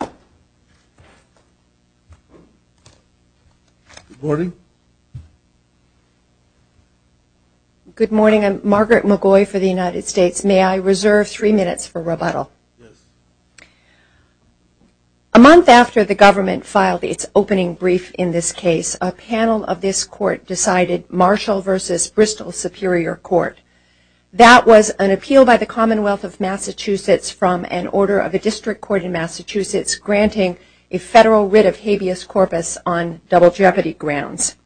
Good morning. Good morning. I'm Margaret McGoy for the United States. May I reserve three minutes for rebuttal? Yes. A month after the government filed its opening brief in this case, a panel of this court decided Marshall v. Bristol Superior Court. That was an appeal by the Commonwealth of Massachusetts from an order of a district court in Massachusetts granting a federal writ of habeas corpus on double jeopardy grounds.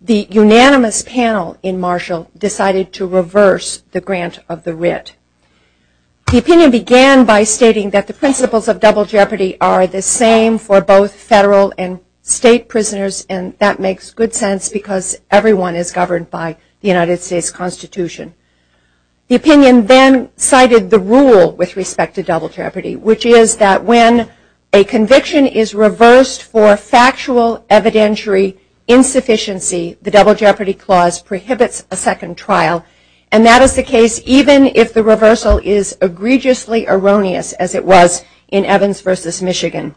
The unanimous panel in Marshall decided to reverse the grant of the writ. The opinion began by stating that the principles of double jeopardy are the same for both federal and state prisoners and that makes good sense because everyone is governed by the United States Constitution. The opinion then cited the rule with respect to double jeopardy, which is that when a conviction is reversed for factual evidentiary insufficiency, the double jeopardy clause prohibits a second trial and that is the case even if the reversal is egregiously erroneous as it was in Evans v. Michigan.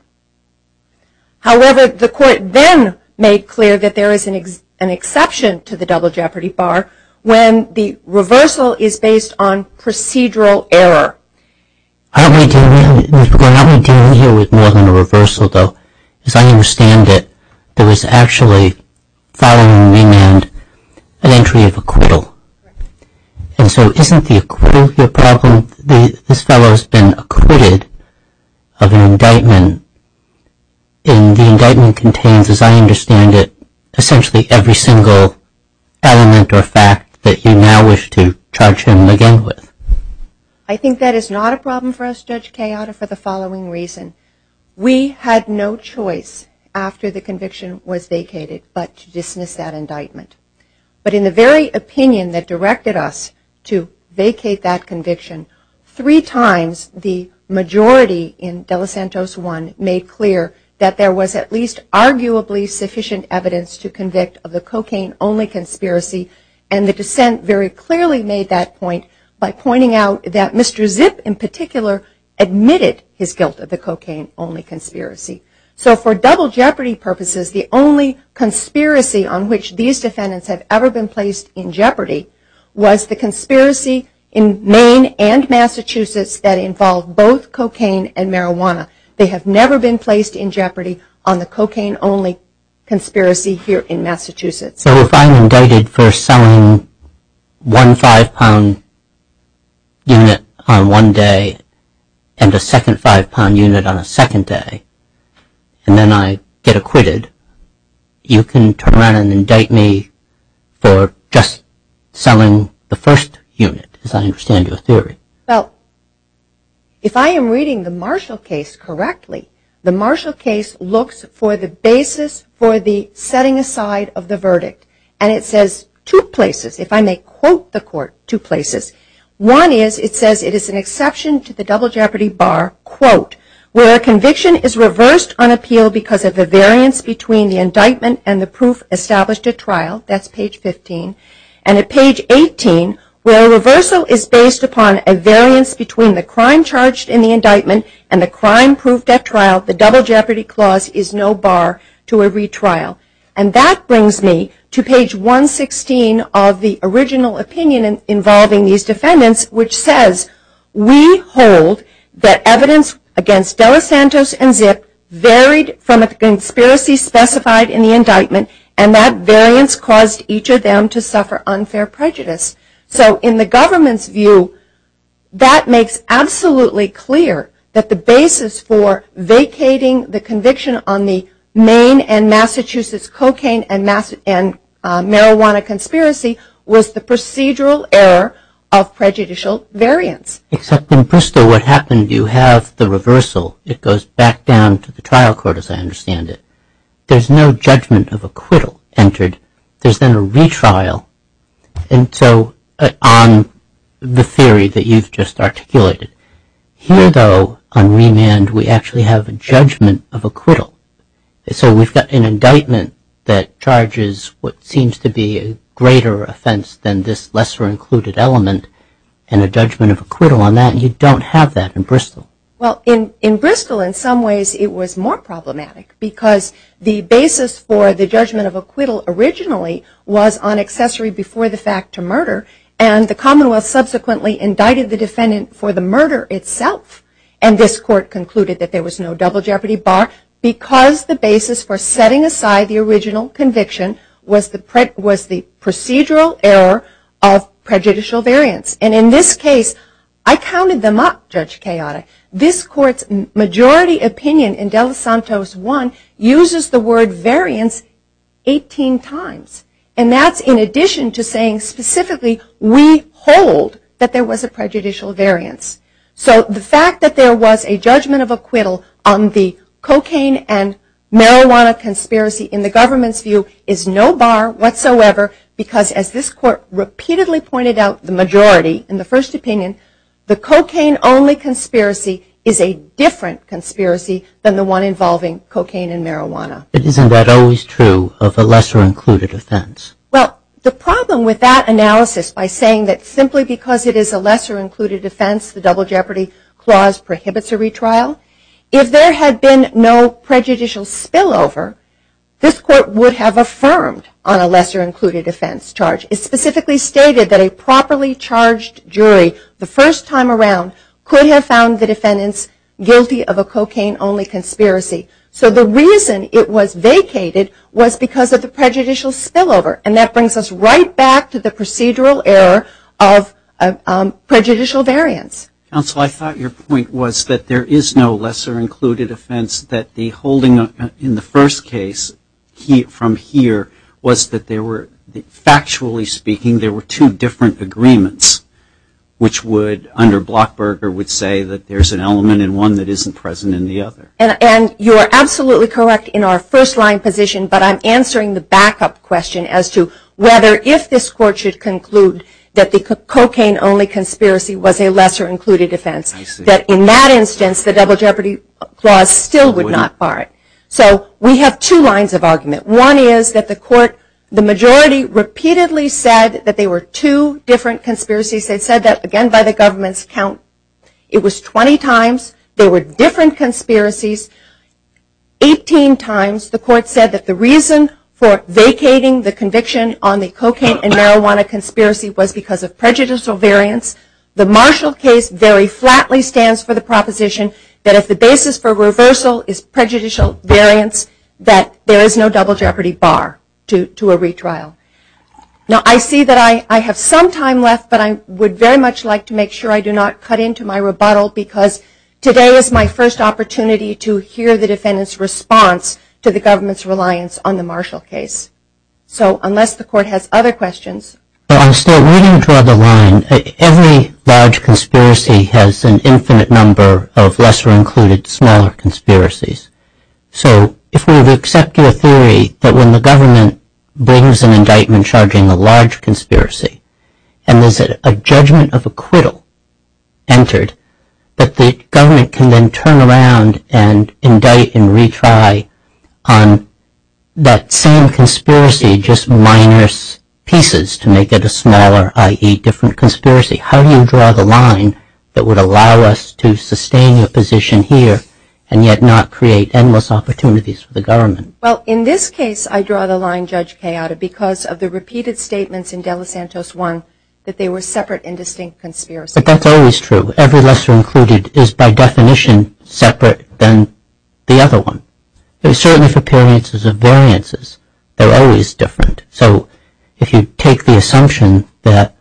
However, the court then made clear that there is an exception to the double jeopardy bar when the reversal is based on procedural error. I don't want to deal with more than a reversal, though, because I understand that there was actually, following remand, an entry of acquittal. And so, isn't the acquittal your problem? This fellow has been acquitted of an indictment and the indictment contains, as I understand it, essentially every single element or fact that you now wish to charge him again with. I think that is not a problem for us, Judge Cayotta, for the following reason. We had no choice after the conviction was vacated but to dismiss that indictment. But in the very opinion that directed us to vacate that conviction, three times the majority in Delicentos 1 made clear that there was at least arguably sufficient evidence to convict of the cocaine only conspiracy and the dissent very clearly made that point by pointing out that Mr. Zipp in particular admitted his guilt of the cocaine only conspiracy. So, for double jeopardy purposes, the only conspiracy on which these defendants have ever been placed in jeopardy was the conspiracy in Maine and Massachusetts that involved both cocaine and marijuana. They have never been placed in jeopardy on the cocaine only conspiracy here in Massachusetts. So, if I'm indicted for selling one five pound unit on one day and a second five pound unit on a second day and then I get acquitted, you can turn around and indict me for just selling the first unit, as I understand your theory? Well, if I am reading the Marshall case correctly, the Marshall case looks for the basis for the setting aside of the verdict. And it says two places, if I may quote the court, two places. One is, it says it is an exception to the double jeopardy bar, quote, where a conviction is reversed on appeal because of the variance between the indictment and the proof established at trial, that's page 15. And at page 18, where a reversal is based upon a variance between the crime charged in the indictment and the crime proved at trial. And that brings me to page 116 of the original opinion involving these defendants, which says, we hold that evidence against DelaSantos and Zipp varied from a conspiracy specified in the indictment and that variance caused each of them to suffer unfair prejudice. So in the government's view, that makes absolutely clear that the basis for vacating the conviction on the Maine and Massachusetts cocaine and marijuana conspiracy was the procedural error of prejudicial variance. Except in Bristol, what happened, you have the reversal. It goes back down to the trial court, as I understand it. There's no judgment of acquittal entered. There's then a retrial. And so, on the theory that you've just articulated, here though, on remand, we actually have a judgment of acquittal. So we've got an indictment that charges what seems to be a greater offense than this lesser included element and a judgment of acquittal on that. You don't have that in Bristol. Well, in Bristol, in some ways, it was more problematic because the basis for the judgment of acquittal originally was on accessory before the fact to murder. And the Commonwealth subsequently indicted the defendant for the murder itself. And this court concluded that there was no double jeopardy bar because the basis for setting aside the original conviction was the procedural error of prejudicial variance. And in this case, I counted them up, Judge Chaotic. This court's majority opinion in De Los Santos 1 uses the word variance 18 times. And that's in addition to saying specifically we hold that there was a prejudicial variance. So the fact that there was a judgment of acquittal on the cocaine and marijuana conspiracy in the government's view is no bar whatsoever because, as this court repeatedly pointed out the majority in the first opinion, the cocaine only conspiracy is a different conspiracy than the one involving cocaine and marijuana. But isn't that always true of a lesser included offense? Well, the problem with that analysis by saying that simply because it is a lesser included offense, the double jeopardy clause prohibits a retrial. If there had been no prejudicial spillover, this court would have affirmed on a lesser included offense charge. It specifically stated that a properly charged jury the first time around could have found the defendants guilty of a cocaine only conspiracy. So the reason it was vacated was because of the prejudicial spillover. And that brings us right back to the procedural error of prejudicial variance. Counsel, I thought your point was that there is no lesser included offense that the holding in the first case from here was that there were, factually speaking, there were two different agreements which would, under Blockberger, would say that there's an element in one that isn't present in the other. And you are absolutely correct in our first line position, but I'm answering the backup question as to whether if this court should conclude that the cocaine only conspiracy was a lesser included offense, that in that instance the double jeopardy clause still would not bar it. So we have two lines of argument. One is that the court, the majority, repeatedly said that there were two different conspiracies. They said that, again, by the government's count. It was 20 times there were different conspiracies, 18 times the court said that the reason for vacating the conviction on the cocaine and marijuana conspiracy was because of prejudicial variance. The Marshall case very flatly stands for the proposition that if the basis for reversal is prejudicial variance, that there is no double jeopardy bar to a retrial. Now I see that I have some time left, but I would very much like to make sure I do not cut into my rebuttal because today is my first opportunity to hear the defendant's response to the government's reliance on the Marshall case. So unless the court has other questions... Well, I'm still waiting to draw the line. Every large conspiracy has an infinite number of lesser included smaller conspiracies. So if we would accept your theory that when the government brings an indictment charging a large conspiracy and there's a judgment of acquittal entered, that the government can then turn around and indict and retry on that same conspiracy, just minor pieces to make it a smaller, i.e., different conspiracy, how do you draw the line that would allow us to sustain your position here and yet not create endless opportunities for the government? Well, in this case, I draw the line, Judge Cayota, because of the repeated statements in De Los Santos 1 that they were separate and distinct conspiracies. But that's always true. Every lesser included is by definition separate than the other one. Certainly for appearances of variances, they're always different. So if you take the assumption that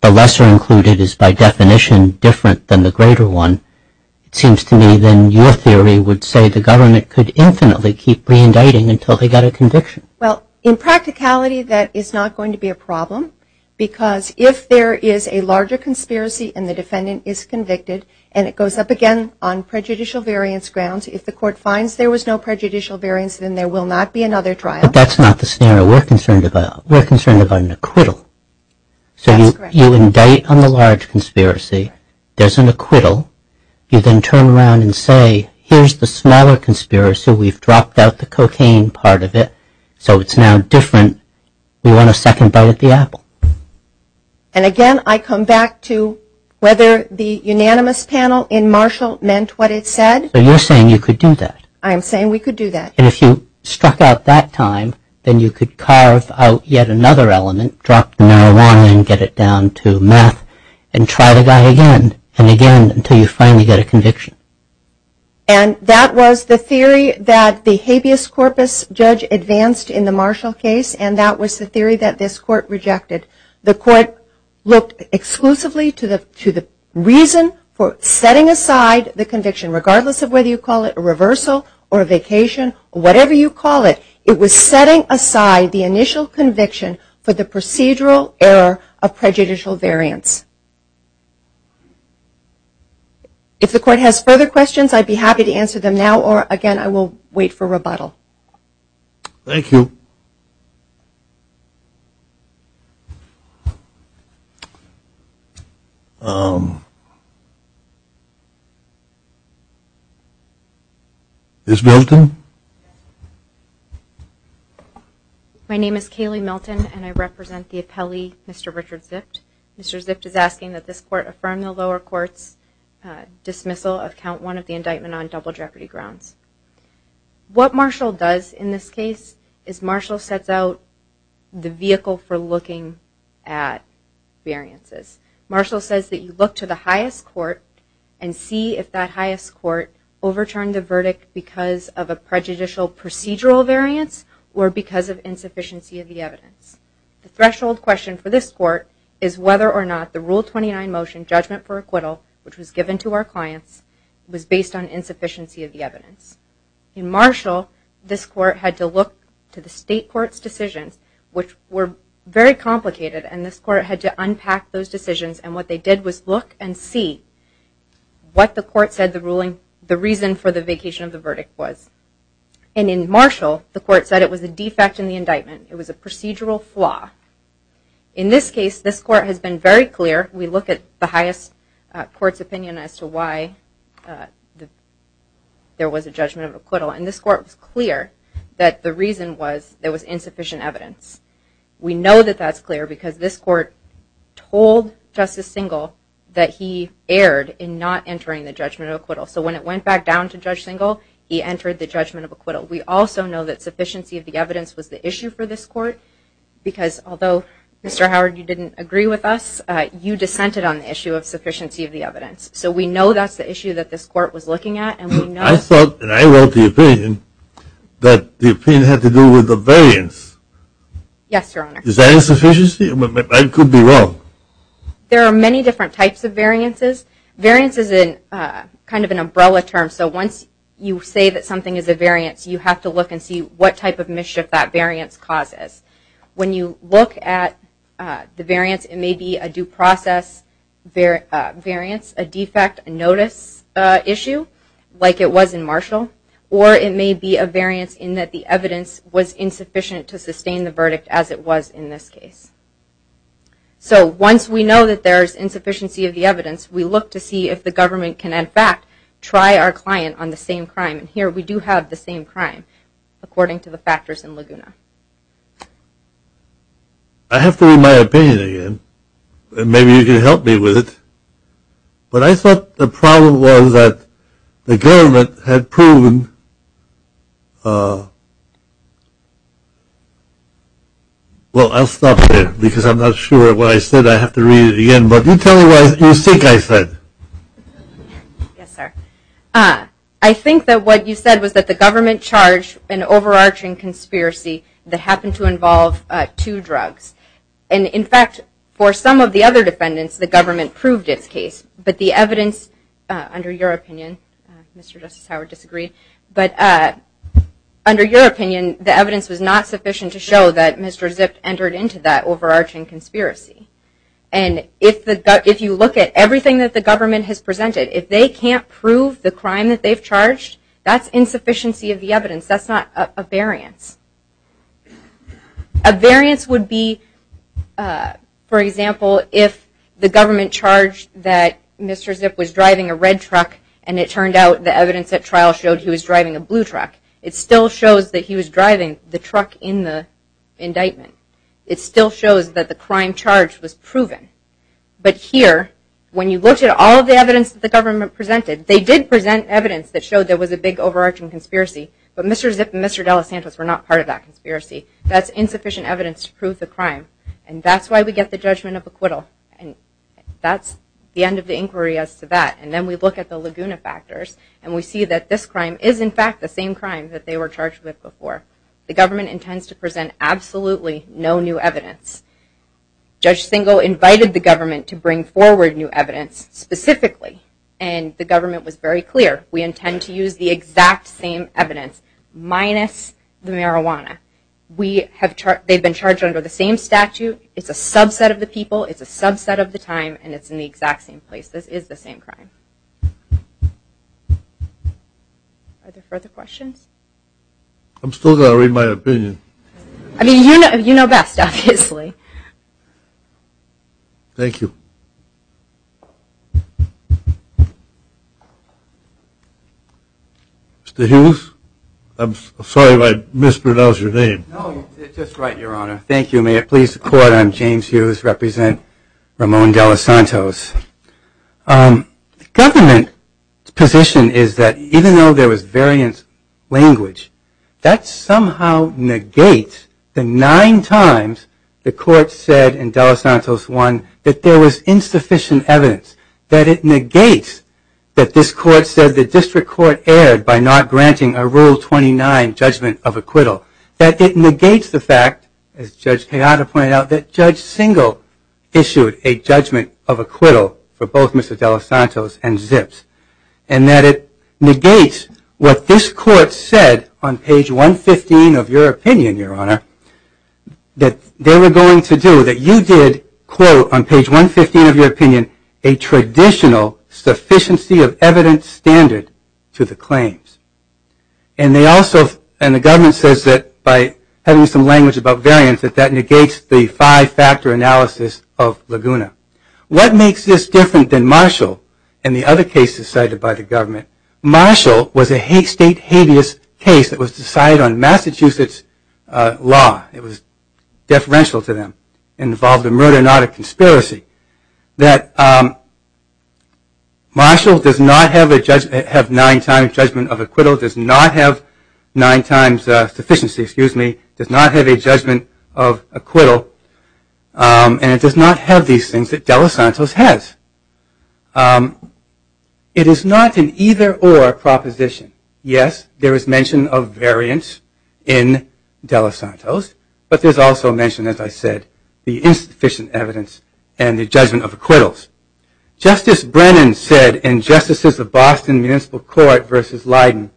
the lesser included is by definition different than the greater one, it seems to me then your theory would say the government could infinitely keep reindicting until they got a conviction. Well, in practicality, that is not going to be a problem because if there is a larger conspiracy and the defendant is convicted and it goes up again on prejudicial variance grounds, if the court finds there was no prejudicial variance, then there will not be another trial. But that's not the scenario. We're concerned about an acquittal. So you indict on the large conspiracy. There's an acquittal. You then turn around and say, here's the smaller conspiracy. We've dropped out the cocaine part of it. So it's now different. We want a second bite at the apple. And again, I come back to whether the unanimous panel in Marshall meant what it said. So you're saying you could do that? I am saying we could do that. And if you struck out that time, then you could carve out yet another element, drop the marijuana and get it down to meth, and try the guy again and again until you finally get a conviction. And that was the theory that the habeas corpus judge advanced in the Marshall case, and that was the theory that this court rejected. The court looked exclusively to the reason for setting aside the conviction, regardless of whether you call it a reversal or a vacation, whatever you call it. It was setting aside the initial conviction for the procedural error of prejudicial variance. If the court has further questions, I'd be happy to answer them now, or again, I will wait for rebuttal. Thank you. Ms. Milton? My name is Kaylee Milton, and I represent the appellee, Mr. Richard Zift. Mr. Zift is asking that this court affirm the lower court's dismissal of count one of the indictment on double jeopardy grounds. What Marshall does in this case is Marshall sets out the vehicle for looking at variances. Marshall says that you look to the highest court and see if that highest court overturned the verdict because of a prejudicial procedural variance or because of insufficiency of the evidence. The threshold question for this court is whether or not the Rule 29 motion, judgment for acquittal, which was given to our clients, was based on insufficiency of the evidence. In Marshall, this court had to look to the state court's decisions, which were very complicated, and this court had to unpack those decisions. And what they did was look and see what the court said the reason for the vacation of the verdict was. And in Marshall, the court said it was a defect in the indictment. It was a procedural flaw. In this case, this court has been very clear. We look at the highest court's opinion as to why there was a judgment of acquittal. And this court was clear that the reason was there was insufficient evidence. We know that that's clear because this court told Justice Singal that he erred in not entering the judgment of acquittal. So when it went back down to Judge Singal, he entered the judgment of acquittal. We also know that sufficiency of the evidence was the issue for this court, because although, Mr. Howard, you didn't agree with us, you dissented on the issue of sufficiency of the evidence. So we know that's the issue that this court was looking at, and we know... I thought, and I wrote the opinion, that the opinion had to do with the variance. Yes, Your Honor. Is that insufficiency? I could be wrong. There are many different types of variances. Variance is kind of an umbrella term, so once you say that something is a variance, you have to look and see what type of mischief that variance causes. When you look at the variance, it may be a due process variance, a defect, a notice issue, like it was in Marshall. Or it may be a variance in that the evidence was insufficient to sustain the verdict, as it was in this case. So once we know that there is insufficiency of the evidence, we look to see if the government can, in fact, try our client on the same crime. And here we do have the same crime, according to the factors in Laguna. I have to read my opinion again, and maybe you can help me with it. But I thought the problem was that the government had proven – well, I'll stop there, because I'm not sure what I said. I have to read it again. But you tell me what you think I said. Yes, sir. I think that what you said was that the government charged an overarching conspiracy that happened to involve two drugs. And, in fact, for some of the other defendants, the government proved its case. But the evidence, under your opinion – Mr. Justice Howard disagreed – but under your opinion, the evidence was not sufficient to show that Mr. Zipp entered into that overarching conspiracy. And if you look at everything that the government has presented, if they can't prove the crime that they've charged, that's insufficiency of the evidence. That's not a variance. A variance would be, for example, if the government charged that Mr. Zipp was driving a red truck and it turned out the evidence at trial showed he was driving a blue truck. It still shows that he was driving the truck in the indictment. It still shows that the crime charged was proven. But here, when you looked at all of the evidence that the government presented, they did present evidence that showed there was a big overarching conspiracy, but Mr. Zipp and Mr. De Los Santos were not part of that conspiracy. That's insufficient evidence to prove the crime. And that's why we get the judgment of acquittal. And that's the end of the inquiry as to that. And then we look at the Laguna factors, and we see that this crime is, in fact, the same crime that they were charged with before. The government intends to present absolutely no new evidence. Judge Singo invited the government to bring forward new evidence specifically, and the government was very clear. We intend to use the exact same evidence, minus the marijuana. They've been charged under the same statute. It's a subset of the people. It's a subset of the time, and it's in the exact same place. This is the same crime. Are there further questions? I'm still going to read my opinion. I mean, you know best, obviously. Thank you. Mr. Hughes? I'm sorry if I mispronounced your name. No, you're just right, Your Honor. Thank you. May it please the Court, I'm James Hughes. I represent Ramon De Los Santos. The government's position is that even though there was variant language, that somehow negates the nine times the Court said in De Los Santos 1 that there was insufficient evidence, that it negates that this Court said the district court erred by not granting a Rule 29 judgment of acquittal, that it negates the fact, as Judge Hayata pointed out, that Judge Singo issued a judgment of acquittal for both Mr. De Los Santos and Zips, and that it negates what this Court said on page 115 of your opinion, Your Honor, that they were going to do, that you did, quote, on page 115 of your opinion, a traditional sufficiency of evidence standard to the claims. And they also, and the government says that by having some language about variants, that that negates the five-factor analysis of Laguna. What makes this different than Marshall and the other cases cited by the government? Marshall was a state habeas case that was decided on Massachusetts law. It was deferential to them. It involved a murder, not a conspiracy. That Marshall does not have nine times judgment of acquittal, does not have nine times sufficiency, excuse me, does not have a judgment of acquittal, and it does not have these things that De Los Santos has. It is not an either-or proposition. Yes, there is mention of variants in De Los Santos, but there's also mention, as I said, the insufficient evidence and the judgment of acquittals. Justice Brennan said in Justices of Boston Municipal Court v. Leiden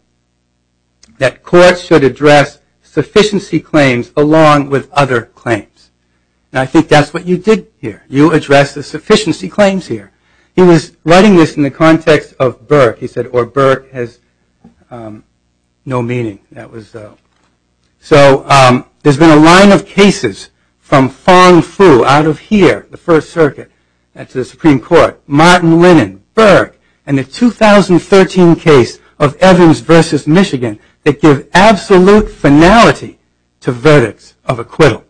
that courts should address sufficiency claims along with other claims. And I think that's what you did here. You addressed the sufficiency claims here. He was writing this in the context of Burke. He said, or Burke has no meaning. That was, so there's been a line of cases from Fang Fu out of here, the First Circuit, that's the Supreme Court, Martin Lennon, Burke, and the 2013 case of Evans v. Michigan that give absolute finality to verdicts of acquittal.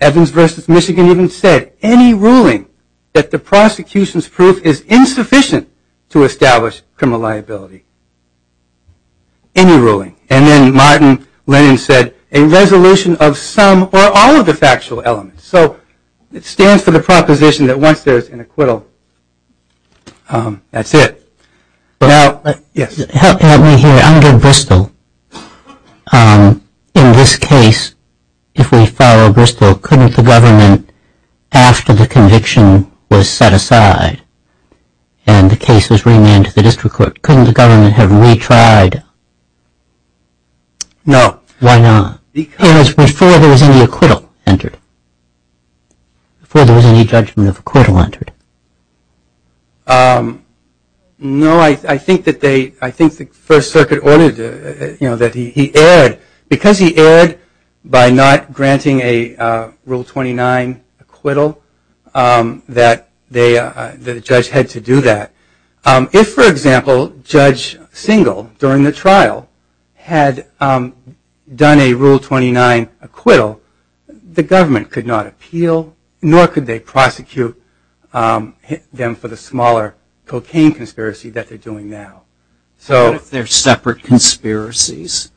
Evans v. Michigan even said, any ruling that the prosecution's proof is insufficient to establish criminal liability. Any ruling. And then Martin Lennon said, a resolution of some or all of the factual elements. So it stands for the proposition that once there's an acquittal, that's it. Now, yes. Help me here. Under Bristol, in this case, if we follow Bristol, couldn't the government, after the conviction was set aside and the case was remanded to the district court, couldn't the government have retried? No. Why not? Because before there was any acquittal entered. Before there was any judgment of acquittal entered. No, I think that they, I think the First Circuit ordered, you know, that he erred. Because he erred by not granting a Rule 29 acquittal, that the judge had to do that. If, for example, Judge Single, during the trial, had done a Rule 29 acquittal, the court would have hit them for the smaller cocaine conspiracy that they're doing now. What if they're separate conspiracies?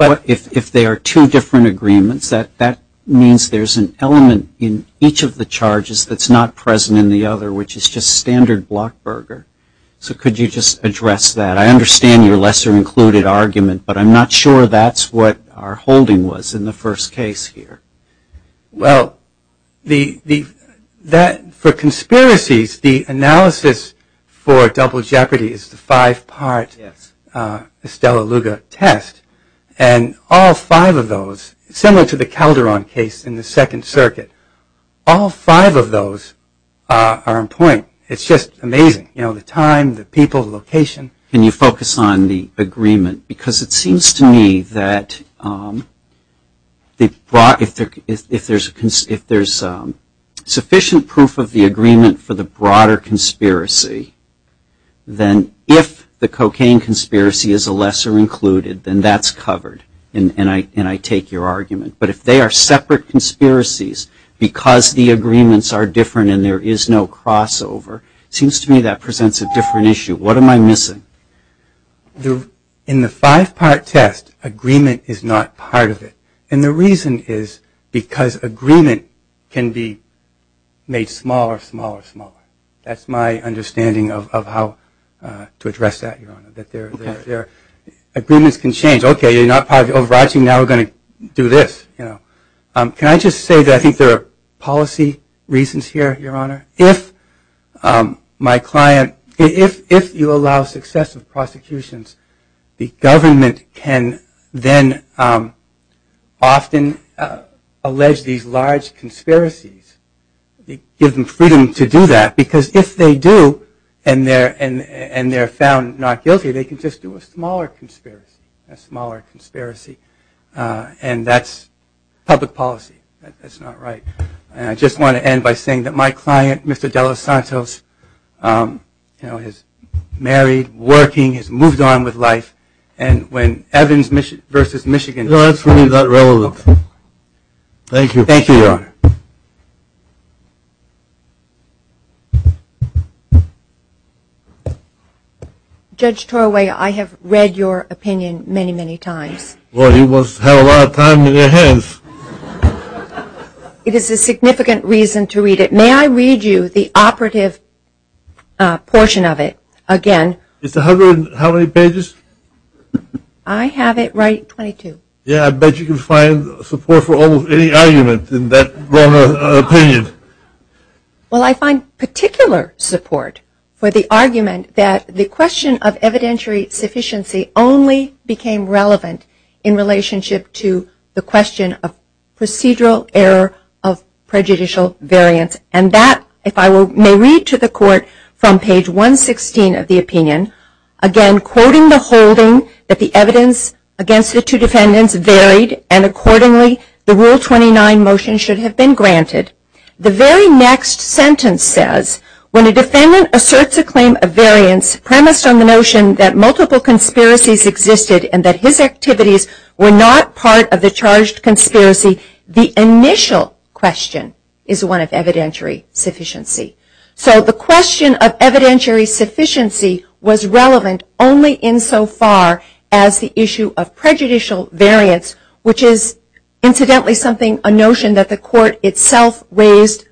If they are two different agreements, that means there's an element in each of the charges that's not present in the other, which is just standard blockburger. So could you just address that? I understand your lesser included argument, but I'm not sure that's what our holding was in the first case here. Well, for conspiracies, the analysis for double jeopardy is the five-part Estella Luga test. And all five of those, similar to the Calderon case in the Second Circuit, all five of those are on point. It's just amazing. You know, the time, the people, the location. Can you focus on the agreement? Because it seems to me that if there's sufficient proof of the agreement for the broader conspiracy, then if the cocaine conspiracy is a lesser included, then that's covered. And I take your argument. But if they are separate conspiracies because the agreements are different and there is no crossover, it seems to me that presents a different issue. What am I missing? In the five-part test, agreement is not part of it. And the reason is because agreement can be made smaller, smaller, smaller. That's my understanding of how to address that, Your Honor. Agreements can change. Okay, you're not part of the overarching. Now we're going to do this. Can I just say that I think there are policy reasons here, Your Honor. If my client, if you allow successive prosecutions, the government can then often allege these large conspiracies. Give them freedom to do that because if they do and they're found not guilty, they can just do a smaller conspiracy, a smaller conspiracy. And that's public policy. That's not right. And I just want to end by saying that my client, Mr. De Los Santos, you know, is married, working, has moved on with life. And when Evans versus Michigan. No, that's really not relevant. Thank you. Thank you, Your Honor. Judge Torway, I have read your opinion many, many times. Well, he must have a lot of time in his hands. It is a significant reason to read it. May I read you the operative portion of it again? It's 100 and how many pages? I have it right 22. Yeah, I bet you can find support for almost any argument in that wrong opinion. Well, I find particular support for the argument that the question of evidentiary sufficiency only became relevant in relationship to the question of procedural error of prejudicial variance. And that, if I may read to the court from page 116 of the opinion, again, quoting the holding that the evidence against the two defendants varied and accordingly the Rule 29 motion should have been granted. The very next sentence says, when a defendant asserts a claim of variance premised on the notion that multiple conspiracies existed and that his activities were not part of the charged conspiracy, the initial question is one of evidentiary sufficiency. So the question of evidentiary sufficiency was relevant only in so far as the issue of prejudicial variance, which is, incidentally, something a notion that the court itself raised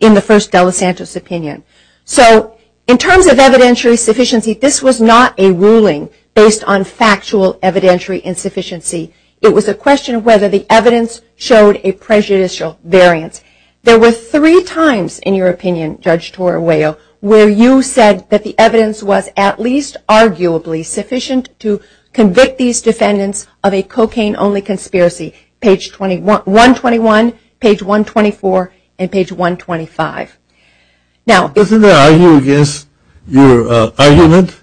in the first De La Santos opinion. So, in terms of evidentiary sufficiency, this was not a ruling based on factual evidentiary insufficiency. It was a question of whether the evidence showed a prejudicial variance. There were three times, in your opinion, Judge Torrejo, where you said that the evidence was at least arguably sufficient to convict these defendants of a cocaine-only conspiracy, page 121, page 124, and page 125. Now, isn't there arguing against your argument?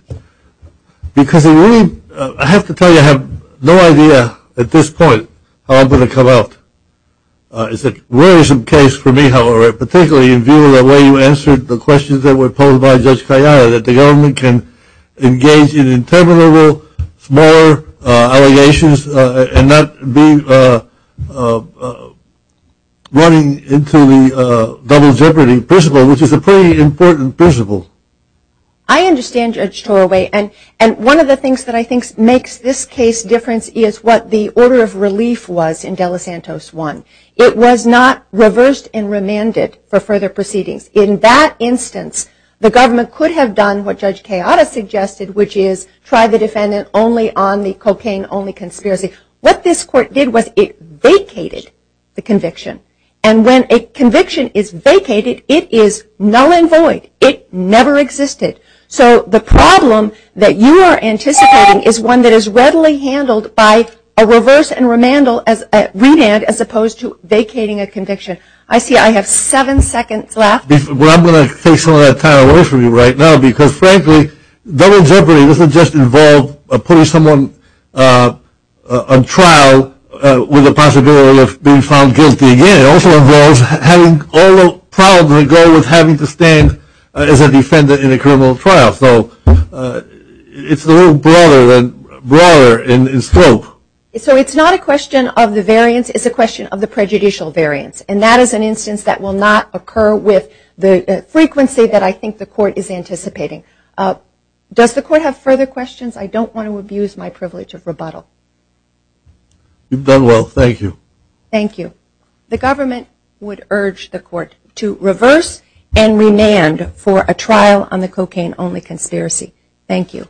Because I have to tell you, I have no idea at this point how I'm going to come out. It's a worrisome case for me, however, particularly in view of the way you answered the questions that were posed by Judge Cayana, that the government can engage in interminable, small allegations and not be running into the double jeopardy principle, which is a pretty important principle. I understand, Judge Torrejo, and one of the things that I think makes this case different is what the order of relief was in De La Santos 1. It was not reversed and remanded for further proceedings. In that instance, the government could have done what Judge Cayana suggested, which is try the defendant only on the cocaine-only conspiracy. What this court did was it vacated the conviction. And when a conviction is vacated, it is null and void. It never existed. So the problem that you are anticipating is one that is readily handled by a reverse and remand as opposed to vacating a conviction. I see I have seven seconds left. Well, I'm going to take some of that time away from you right now because, frankly, double jeopardy doesn't just involve putting someone on trial with the possibility of being found guilty again. It also involves having all the problems that go with having to stand as a defendant in a criminal trial. So it's a little broader in scope. So it's not a question of the variance. It's a question of the prejudicial variance. And that is an instance that will not occur with the frequency that I think the court is anticipating. Does the court have further questions? I don't want to abuse my privilege of rebuttal. You've done well. Thank you. Thank you. The government would urge the court to reverse and remand for a trial on the cocaine-only conspiracy. Thank you.